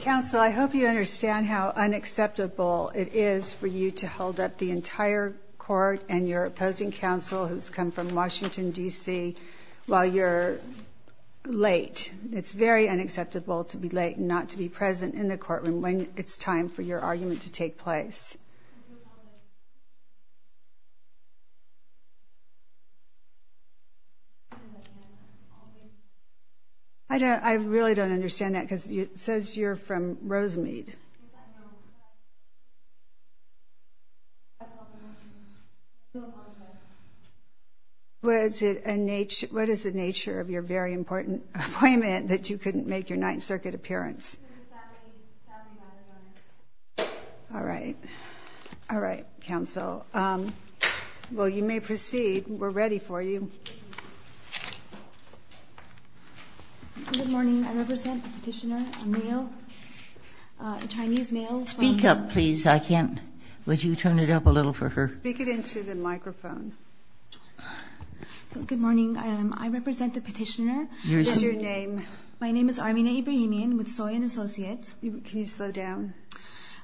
Counsel, I hope you understand how unacceptable it is for you to hold up the entire court and your opposing counsel who's come from Washington DC while you're late. It's very unacceptable to be late and not to be present in the courtroom when it's time for your argument to take place. I don't, I really don't understand that because it says you're from Rosemead. What is it, what is the nature of your very important appointment that you All right, counsel. Well, you may proceed. We're ready for you. Good morning, I represent the petitioner, a male, a Chinese male. Speak up please, I can't, would you turn it up a little for her? Speak it into the microphone. Good morning, I represent the petitioner. What's your name? My name is Armina Ibrahimian with Soy and Associates. Can you slow down?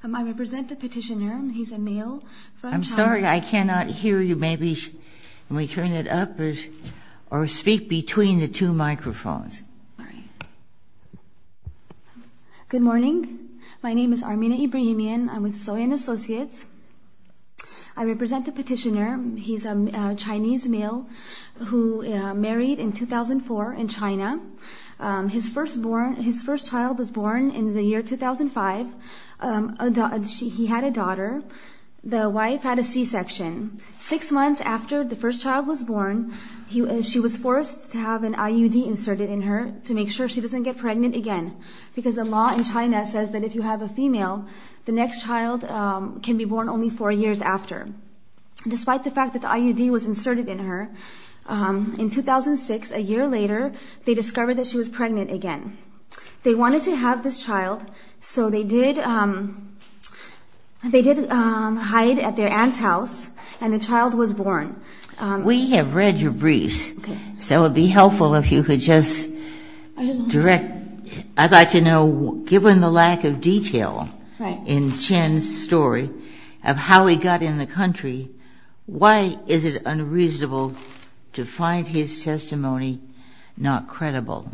I represent the petitioner. He's a male. I'm sorry, I cannot hear you. Maybe we turn it up or speak between the two microphones. Good morning, my name is Armina Ibrahimian. I'm with Soy and Associates. I represent the petitioner. He's a Chinese male who married in 2004 in China. His first child was born in the year 2005. He had a daughter. The wife had a C-section. Six months after the first child was born, she was forced to have an IUD inserted in her to make sure she doesn't get pregnant again because the law in China says that if you have a female, the next child can be born only four years after. Despite the fact that the IUD was inserted in her, in 2006, a year later, they discovered that she was pregnant again. They wanted to have this child, so they did hide at their aunt's house, and the child was born. We have read your briefs, so it would be helpful if you could just direct. I'd like to know, given the lack of detail in Chen's story of how he got in the country, why is it unreasonable to find his testimony not credible?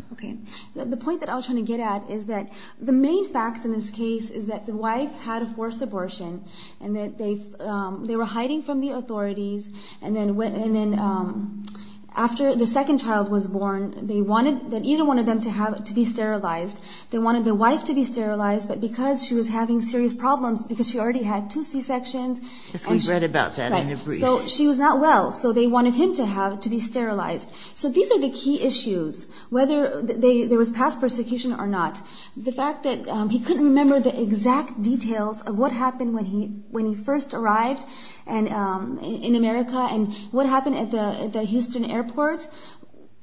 The point that I was trying to get at is that the main fact in this case is that the wife had a forced abortion and that they were hiding from the authorities, and then after the second child was born, they wanted either one of them to be sterilized. They wanted the wife to be sterilized, but because she was having serious problems, because she already had two C-sections, she was not well, so they wanted him to be sterilized. So these are the key issues, whether there was past persecution or not. The fact that he couldn't remember the exact details of what happened when he first arrived in America and what happened at the Houston airport,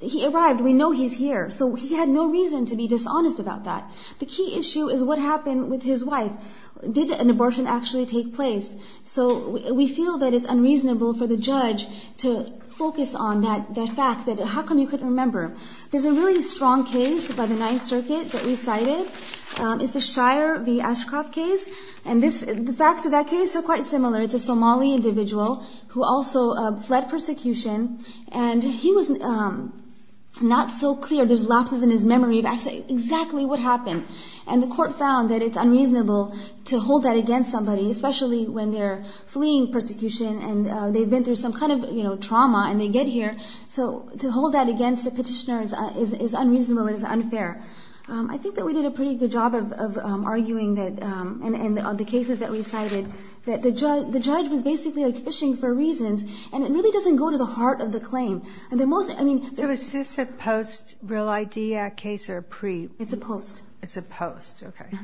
he arrived, we know he's here, so he had no reason to be dishonest about that. The key issue is what happened with his wife. Did an abortion actually take place? So we feel that it's unreasonable for the judge to focus on that fact, that how come he couldn't remember. There's a really strong case by the Ninth Circuit that we cited. It's the Shire v. Ashcroft case, and the facts of that case are quite similar. It's a Somali individual who also fled persecution, and he was not so clear. There's lapses in his memory of exactly what happened, and the court found that it's unreasonable to hold that against somebody, especially when they're fleeing persecution and they've been through some kind of trauma and they get here. So to hold that against a petitioner is unreasonable and is unfair. I think that we did a pretty good job of arguing that, and on the cases that we cited, that the judge was basically fishing for reasons, and it really doesn't go to the heart of the claim. So is this a post-Real Idea case or a pre-? It's a post. It's a post, okay.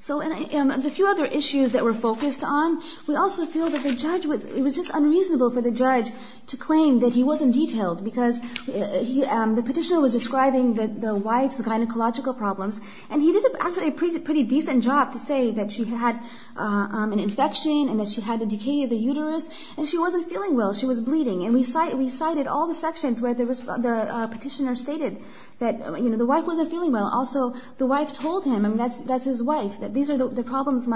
So the few other issues that we're focused on, we also feel that it was just unreasonable for the judge to claim that he wasn't detailed because the petitioner was describing the wife's gynecological problems, and he did, actually, a pretty decent job to say that she had an infection and that she had a decay of the uterus, and she wasn't feeling well. She was bleeding, and we cited all the sections where the petitioner stated that the wife wasn't feeling well. Also, the wife told him, and that's his wife, that these are the problems.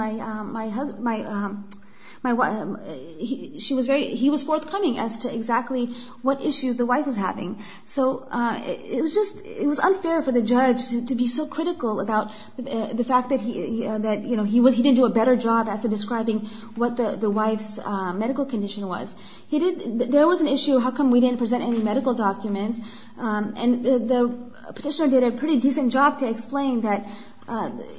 He was forthcoming as to exactly what issues the wife was having. So it was unfair for the judge to be so critical about the fact that he didn't do a better job as to describing what the wife's medical condition was. There was an issue, how come we didn't present any medical documents, and the petitioner did a pretty decent job to explain that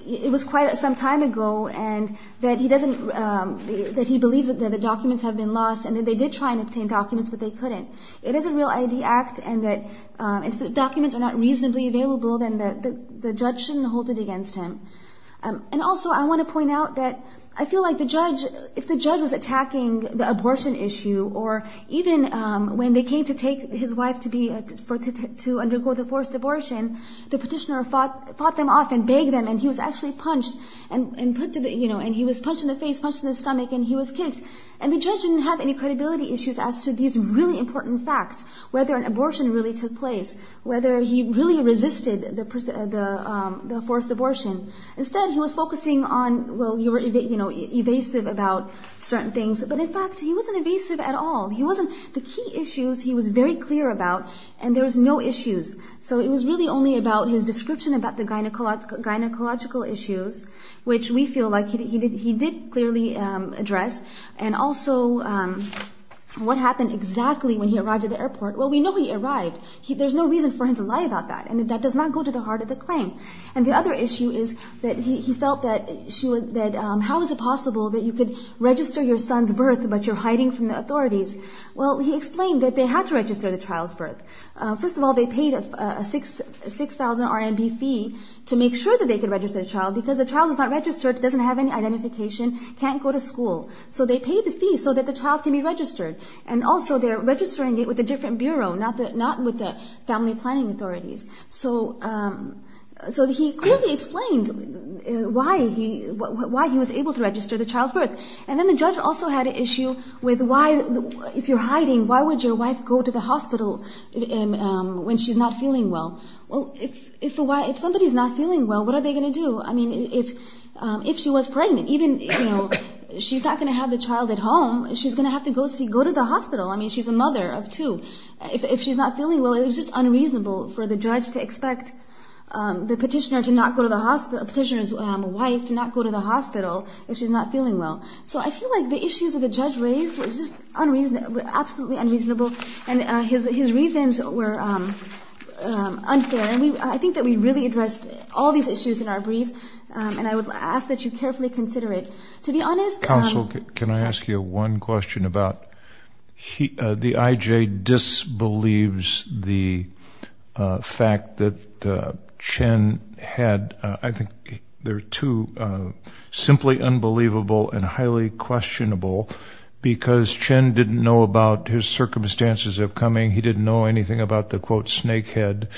it was quite some time ago and that he believes that the documents have been lost, and that they did try and obtain documents, but they couldn't. It is a Real ID Act, and if the documents are not reasonably available, then the judge shouldn't hold it against him. And also, I want to point out that I feel like if the judge was attacking the abortion issue, or even when they came to take his wife to undergo the forced abortion, the petitioner fought them off and begged them, and he was actually punched, and he was punched in the face, punched in the stomach, and he was kicked. And the judge didn't have any credibility issues as to these really important facts, whether an abortion really took place, whether he really resisted the forced abortion. Instead, he was focusing on, well, you were evasive about certain things, but in fact, he wasn't evasive at all. The key issues he was very clear about, and there was no issues. So it was really only about his description about the gynecological issues, which we feel like he did clearly address. And also, what happened exactly when he arrived at the airport. Well, we know he arrived. There's no reason for him to lie about that, and that does not go to the heart of the claim. And the other issue is that he felt that how is it possible that you could register your son's birth, but you're hiding from the authorities. Well, he explained that they had to register the child's birth. First of all, they paid a 6,000 RMB fee to make sure that they could register the child because the child is not registered, doesn't have any identification, can't go to school. So they paid the fee so that the child can be registered. And also, they're registering it with a different bureau, not with the family planning authorities. So he clearly explained why he was able to register the child's birth. And then the judge also had an issue with why, if you're hiding, why would your wife go to the hospital when she's not feeling well? Well, if somebody's not feeling well, what are they going to do? I mean, if she was pregnant, even, you know, she's not going to have the child at home. She's going to have to go to the hospital. I mean, she's a mother of two. If she's not feeling well, it was just unreasonable for the judge to expect the petitioner's wife to not go to the hospital if she's not feeling well. So I feel like the issues that the judge raised were just absolutely unreasonable, and his reasons were unfair. And I think that we really addressed all these issues in our briefs, and I would ask that you carefully consider it. To be honest, Counsel, can I ask you one question about the IJ disbelieves the fact that Chen had, I think there are two, simply unbelievable and highly questionable, because Chen didn't know about his circumstances of coming. He didn't know anything about the, quote, snake head.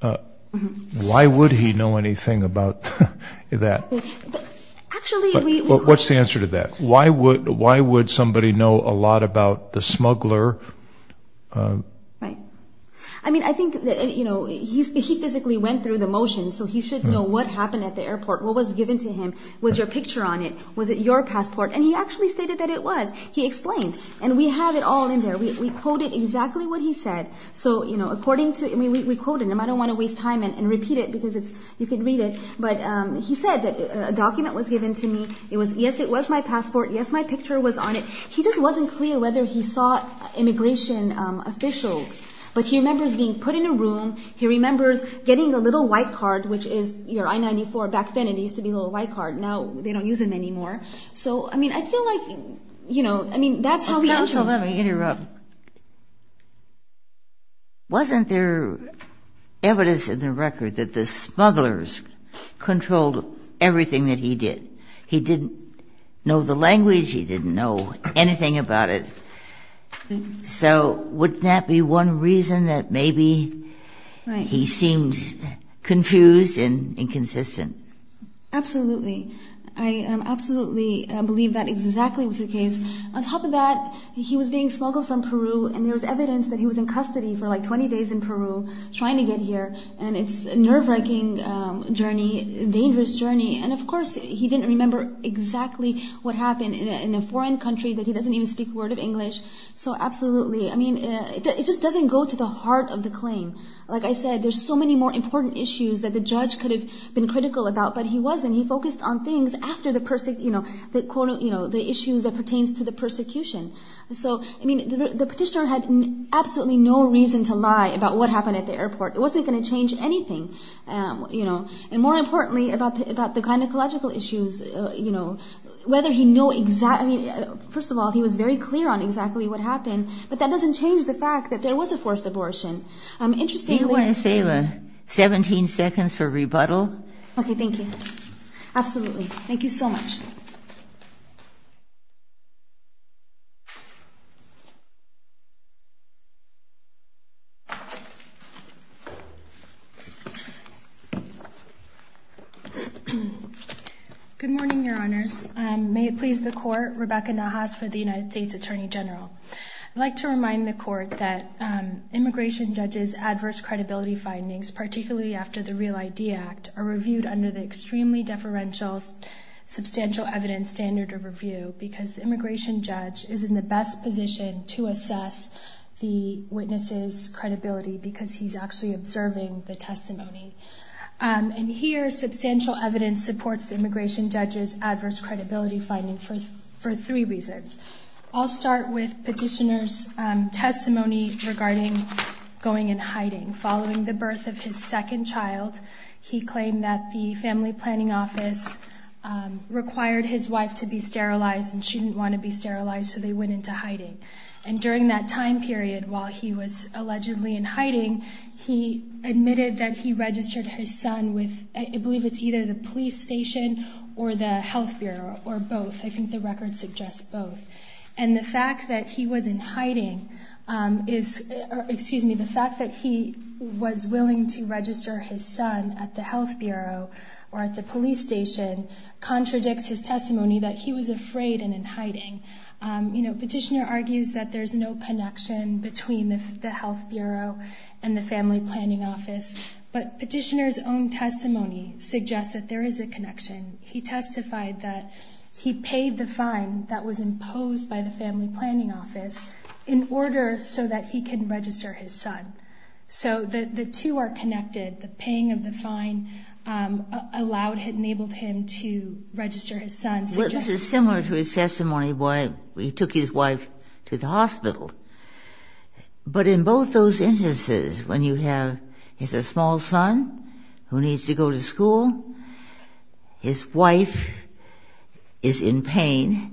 Why would he know anything about that? What's the answer to that? Why would somebody know a lot about the smuggler? Right. I mean, I think, you know, he physically went through the motions, so he should know what happened at the airport, what was given to him, was there a picture on it, was it your passport? And he actually stated that it was. He explained. And we have it all in there. We quoted exactly what he said. So, you know, according to, I mean, we quoted him. I don't want to waste time and repeat it because it's, you can read it. But he said that a document was given to me. It was, yes, it was my passport. Yes, my picture was on it. He just wasn't clear whether he saw immigration officials. But he remembers being put in a room. He remembers getting a little white card, which is your I-94. Back then it used to be a little white card. Now they don't use them anymore. So, I mean, I feel like, you know, I mean, that's how he entered. If you'll let me interrupt. Wasn't there evidence in the record that the smugglers controlled everything that he did? He didn't know the language. He didn't know anything about it. So wouldn't that be one reason that maybe he seemed confused and inconsistent? Absolutely. I absolutely believe that exactly was the case. On top of that, he was being smuggled from Peru, and there was evidence that he was in custody for, like, 20 days in Peru trying to get here. And it's a nerve-wracking journey, a dangerous journey. And, of course, he didn't remember exactly what happened in a foreign country, that he doesn't even speak a word of English. So absolutely, I mean, it just doesn't go to the heart of the claim. Like I said, there's so many more important issues that the judge could have been critical about, but he wasn't. He focused on things after the, you know, the issues that pertains to the persecution. So, I mean, the petitioner had absolutely no reason to lie about what happened at the airport. It wasn't going to change anything, you know. And more importantly, about the gynecological issues, you know, whether he knew exactly – I mean, first of all, he was very clear on exactly what happened, but that doesn't change the fact that there was a forced abortion. Interestingly – Do you want to save 17 seconds for rebuttal? Okay, thank you. Absolutely. Thank you so much. Good morning, Your Honors. May it please the Court, Rebecca Nahas for the United States Attorney General. I'd like to remind the Court that immigration judges' adverse credibility findings, particularly after the Real ID Act, are reviewed under the extremely deferential substantial evidence standard of review because the immigration judge is in the best position to assess the witness's credibility because he's actually observing the testimony. And here, substantial evidence supports the immigration judge's adverse credibility finding for three reasons. I'll start with petitioner's testimony regarding going and hiding following the birth of his second child. He claimed that the family planning office required his wife to be sterilized and she didn't want to be sterilized, so they went into hiding. And during that time period, while he was allegedly in hiding, he admitted that he registered his son with – I believe it's either the police station or the health bureau or both. I think the record suggests both. And the fact that he was in hiding is – excuse me, the fact that he was willing to register his son at the health bureau or at the police station contradicts his testimony that he was afraid and in hiding. You know, petitioner argues that there's no connection between the health bureau and the family planning office, but petitioner's own testimony suggests that there is a connection. He testified that he paid the fine that was imposed by the family planning office in order so that he could register his son. So the two are connected. The paying of the fine allowed him, enabled him to register his son. This is similar to his testimony where he took his wife to the hospital. But in both those instances, when you have a small son who needs to go to school, his wife is in pain.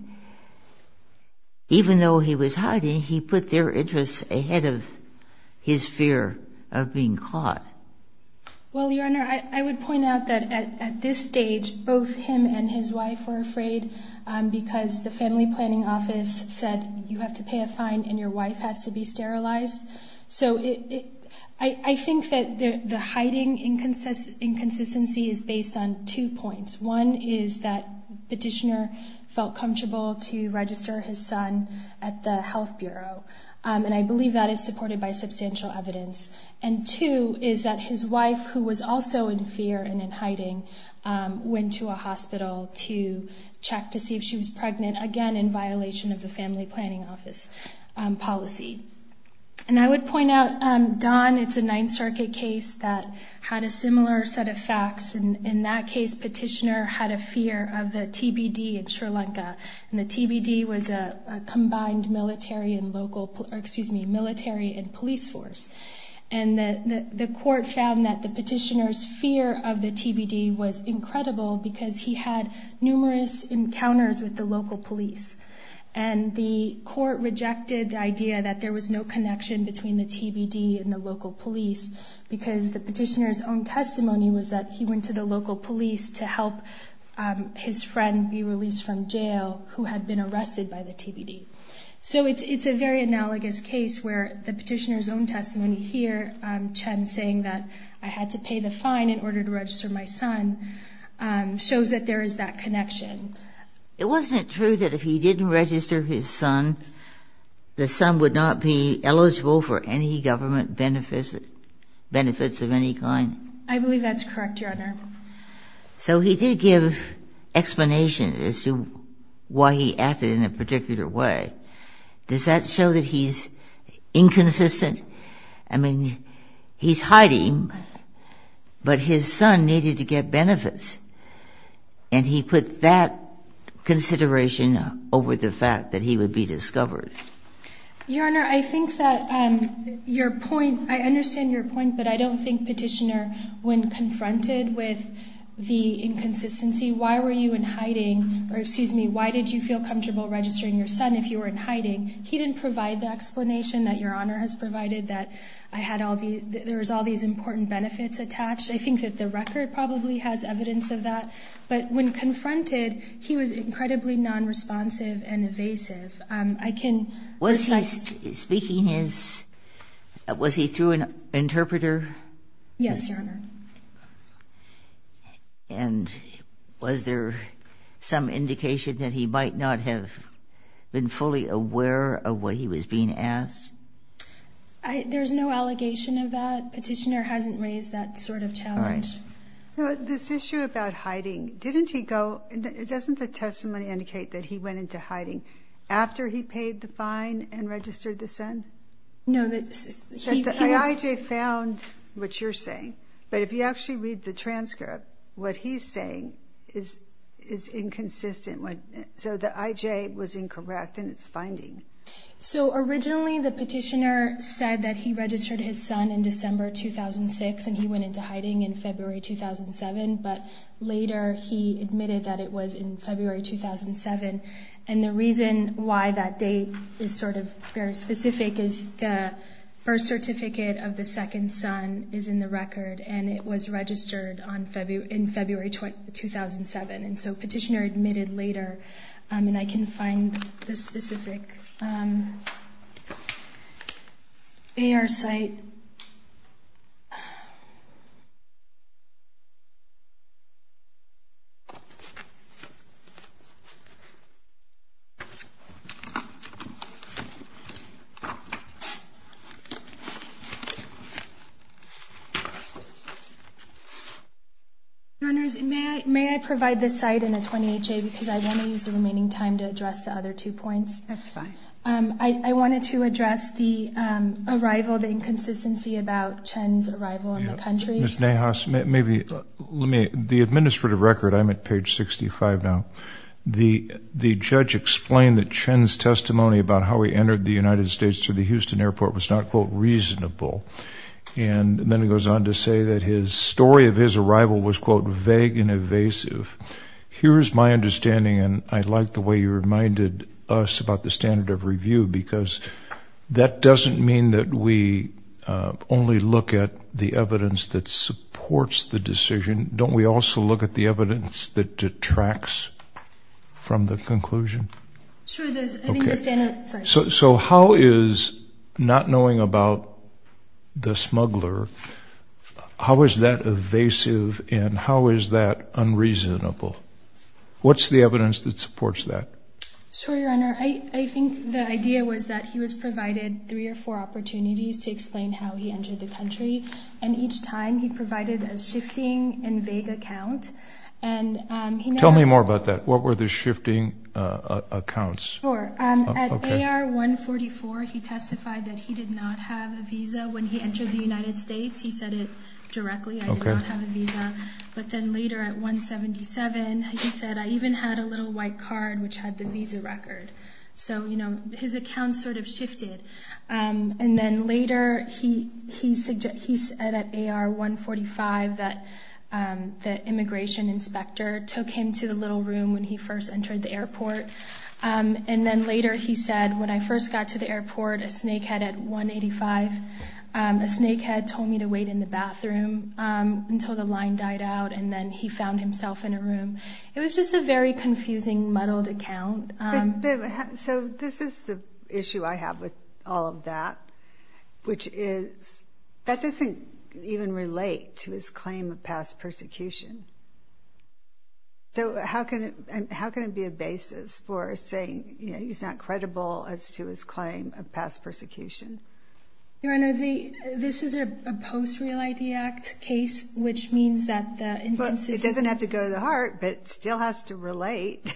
Even though he was hiding, he put their interests ahead of his fear of being caught. Well, Your Honor, I would point out that at this stage, both him and his wife were afraid because the family planning office said, you have to pay a fine and your wife has to be sterilized. So I think that the hiding inconsistency is based on two points. One is that petitioner felt comfortable to register his son at the health bureau, and I believe that is supported by substantial evidence. And two is that his wife, who was also in fear and in hiding, went to a hospital to check to see if she was pregnant, again in violation of the family planning office policy. And I would point out, Don, it's a Ninth Circuit case that had a similar set of facts. In that case, petitioner had a fear of the TBD in Sri Lanka, and the TBD was a combined military and police force. And the court found that the petitioner's fear of the TBD was incredible because he had numerous encounters with the local police. And the court rejected the idea that there was no connection between the TBD and the local police because the petitioner's own testimony was that he went to the local police to help his friend be released from jail who had been arrested by the TBD. So it's a very analogous case where the petitioner's own testimony here, Chen saying that I had to pay the fine in order to register my son, shows that there is that connection. It wasn't true that if he didn't register his son, the son would not be eligible for any government benefits of any kind? I believe that's correct, Your Honor. So he did give explanations as to why he acted in a particular way. Does that show that he's inconsistent? I mean, he's hiding, but his son needed to get benefits, and he put that consideration over the fact that he would be discovered. Your Honor, I think that your point, I understand your point, but I don't think Petitioner, when confronted with the inconsistency, why were you in hiding, or excuse me, why did you feel comfortable registering your son if you were in hiding? He didn't provide the explanation that Your Honor has provided, that there was all these important benefits attached. I think that the record probably has evidence of that. But when confronted, he was incredibly nonresponsive and evasive. I can repeat. Was he speaking his – was he through an interpreter? Yes, Your Honor. And was there some indication that he might not have been fully aware of what he was being asked? There's no allegation of that. Petitioner hasn't raised that sort of challenge. All right. So this issue about hiding, didn't he go – doesn't the testimony indicate that he went into hiding after he paid the fine and registered the son? No, that he – I found what you're saying. But if you actually read the transcript, what he's saying is inconsistent. So the IJ was incorrect in its finding. So originally the Petitioner said that he registered his son in December 2006 and he went into hiding in February 2007, but later he admitted that it was in February 2007. And the reason why that date is sort of very specific is the birth certificate of the second son is in the record and it was registered in February 2007. And so Petitioner admitted later. And I can find the specific AR site. Your Honors, may I provide this site in a 20HA because I want to use the remaining time to address the other two points? That's fine. I wanted to address the arrival, the inconsistency about Chen's arrival in the country. Ms. Nahas, maybe let me – the administrative record, I'm at page 65 now. The judge explained that Chen's testimony about how he entered the United States to the House of Representatives at the Houston airport was not, quote, reasonable. And then he goes on to say that his story of his arrival was, quote, vague and evasive. Here is my understanding, and I like the way you reminded us about the standard of review because that doesn't mean that we only look at the evidence that supports the decision. Don't we also look at the evidence that detracts from the conclusion? So how is not knowing about the smuggler, how is that evasive and how is that unreasonable? What's the evidence that supports that? Sure, Your Honor. I think the idea was that he was provided three or four opportunities to explain how he entered the country, and each time he provided a shifting and vague account. Tell me more about that. What were the shifting accounts? Sure. At AR-144, he testified that he did not have a visa when he entered the United States. He said it directly, I did not have a visa. But then later at 177, he said, I even had a little white card which had the visa record. So, you know, his account sort of shifted. And then later he said at AR-145 that the immigration inspector took him to the little room when he first entered the airport. And then later he said, when I first got to the airport, a snakehead at 185, a snakehead told me to wait in the bathroom until the line died out, and then he found himself in a room. It was just a very confusing muddled account. So this is the issue I have with all of that, which is that doesn't even relate to his claim of past persecution. So how can it be a basis for saying, you know, he's not credible as to his claim of past persecution? Your Honor, this is a post-Real ID Act case, which means that the invoices – But it doesn't have to go to the heart, but it still has to relate.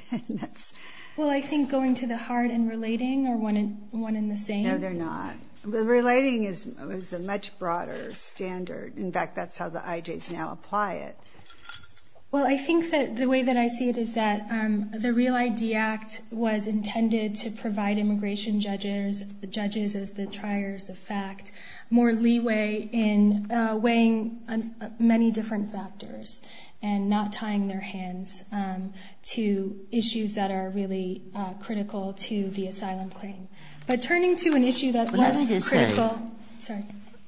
Well, I think going to the heart and relating are one and the same. No, they're not. Relating is a much broader standard. In fact, that's how the IJs now apply it. Well, I think that the way that I see it is that the Real ID Act was intended to provide immigration judges, the judges as the triers of fact, more leeway in weighing many different factors and not tying their hands to issues that are really critical to the asylum claim. But turning to an issue that was critical – What I did say – Sorry.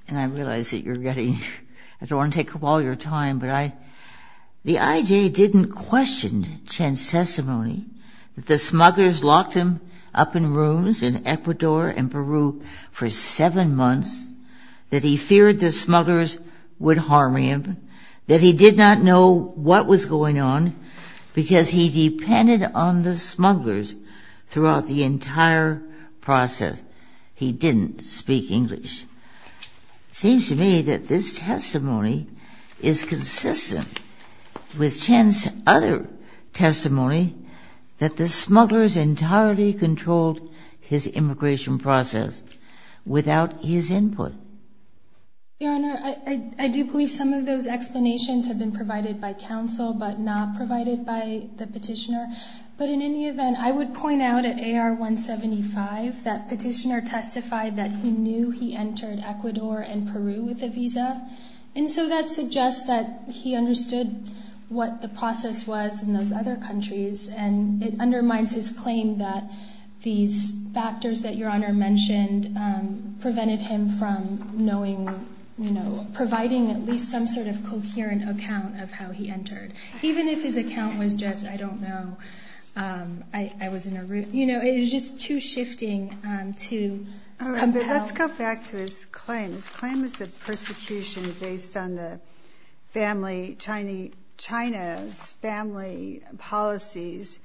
And I realize that you're getting – I don't want to take up all your time, but the IJ didn't question Chen's testimony that the smugglers locked him up in rooms in Ecuador and Peru for seven months, that he feared the smugglers would harm him, that he did not know what was going on because he depended on the smugglers throughout the entire process. He didn't speak English. It seems to me that this testimony is consistent with Chen's other testimony that the smugglers entirely controlled his immigration process without his input. Your Honor, I do believe some of those explanations have been provided by counsel but not provided by the petitioner. But in any event, I would point out at AR-175 that petitioner testified that he knew he entered Ecuador and Peru with a visa, and so that suggests that he understood what the process was in those other countries and it undermines his claim that these factors that Your Honor mentioned prevented him from providing at least some sort of coherent account of how he entered. Even if his account was just, I don't know, it was just too shifting to compel. Let's go back to his claim. His claim is of persecution based on China's family policies,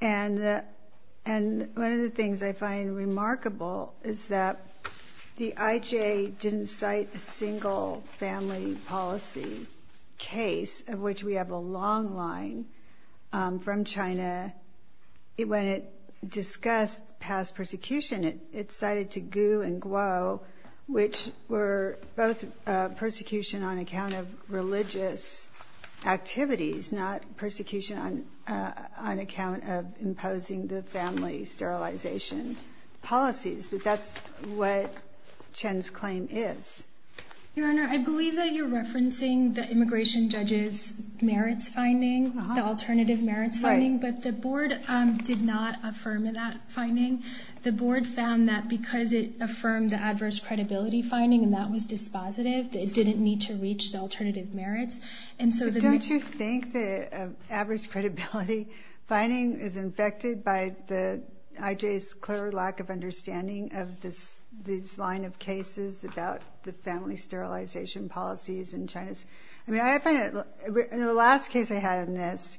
and one of the things I find remarkable is that the IJ didn't cite a single family policy case of which we have a long line from China. When it discussed past persecution, it cited to Gu and Guo, which were both persecution on account of religious activities, not persecution on account of imposing the family sterilization policies. But that's what Chen's claim is. Your Honor, I believe that you're referencing the immigration judge's merits finding, the alternative merits finding, but the board did not affirm that finding. The board found that because it affirmed the adverse credibility finding and that was dispositive, it didn't need to reach the alternative merits. Don't you think the adverse credibility finding is infected by the IJ's clear lack of understanding of this line of cases about the family sterilization policies in China? In the last case I had in this,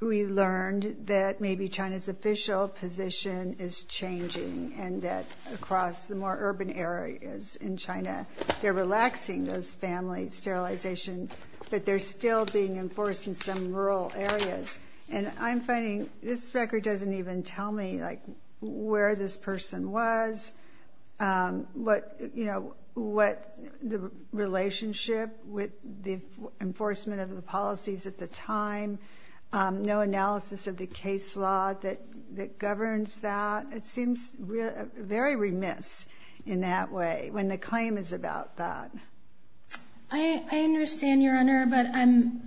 we learned that maybe China's official position is changing and that across the more urban areas in China, they're relaxing those family sterilization, but they're still being enforced in some rural areas. And I'm finding this record doesn't even tell me where this person was, what the relationship with the enforcement of the policies at the time, no analysis of the case law that governs that. It seems very remiss in that way when the claim is about that. I understand, Your Honor, but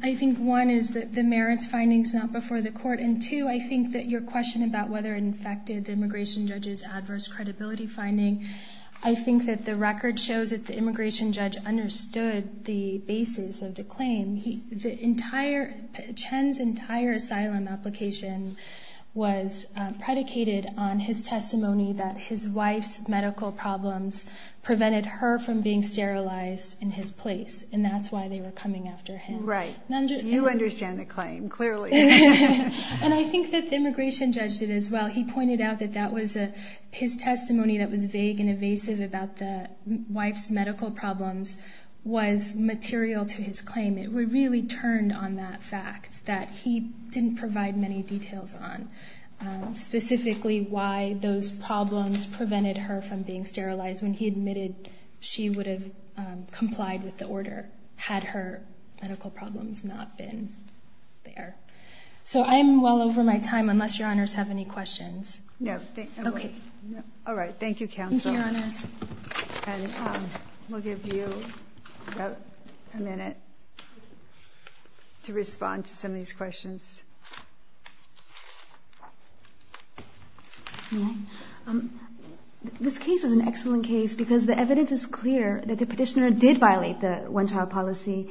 I think one is that the merits finding is not before the court and two, I think that your question about whether it infected the immigration judge's adverse credibility finding, I think that the record shows that the immigration judge understood the basis of the claim. Chen's entire asylum application was predicated on his testimony that his wife's medical problems prevented her from being sterilized in his place, and that's why they were coming after him. Right. You understand the claim, clearly. And I think that the immigration judge did as well. He pointed out that his testimony that was vague and evasive about the wife's medical problems was material to his claim. It really turned on that fact that he didn't provide many details on, specifically, why those problems prevented her from being sterilized when he admitted she would have complied with the order had her medical problems not been there. So I am well over my time, unless Your Honors have any questions. No. Okay. Thank you, Your Honors. We'll give you about a minute to respond to some of these questions. This case is an excellent case because the evidence is clear that the petitioner did violate the one-child policy.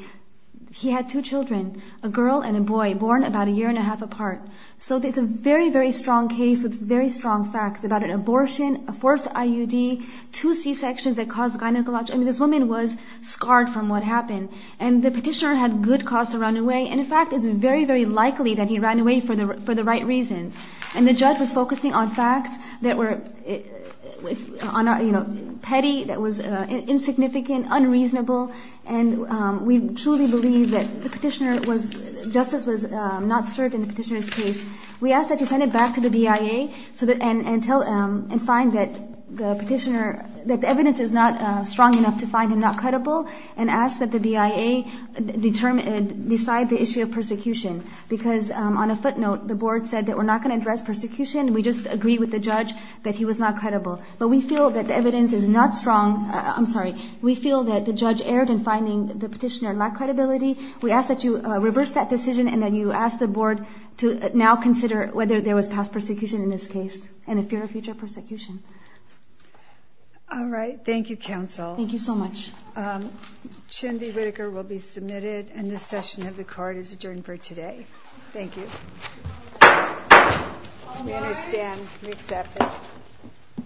He had two children, a girl and a boy, born about a year and a half apart. So it's a very, very strong case with very strong facts about an abortion, a forced IUD, two C-sections that caused gynecological – I mean, this woman was scarred from what happened. And the petitioner had good cause to run away. And, in fact, it's very, very likely that he ran away for the right reasons. And the judge was focusing on facts that were petty, that was insignificant, unreasonable. And we truly believe that the petitioner was – justice was not served in the petitioner's case. We ask that you send it back to the BIA and find that the petitioner – that the evidence is not strong enough to find him not credible and ask that the BIA decide the issue of persecution. Because on a footnote, the board said that we're not going to address persecution. We just agree with the judge that he was not credible. But we feel that the evidence is not strong – I'm sorry. We feel that the judge erred in finding the petitioner lacked credibility. We ask that you reverse that decision and that you ask the board to now consider whether there was past persecution in this case and the fear of future persecution. All right. Thank you, counsel. Thank you so much. Chindy Whitaker will be submitted, and this session of the court is adjourned for today. Thank you. We understand. We accept it.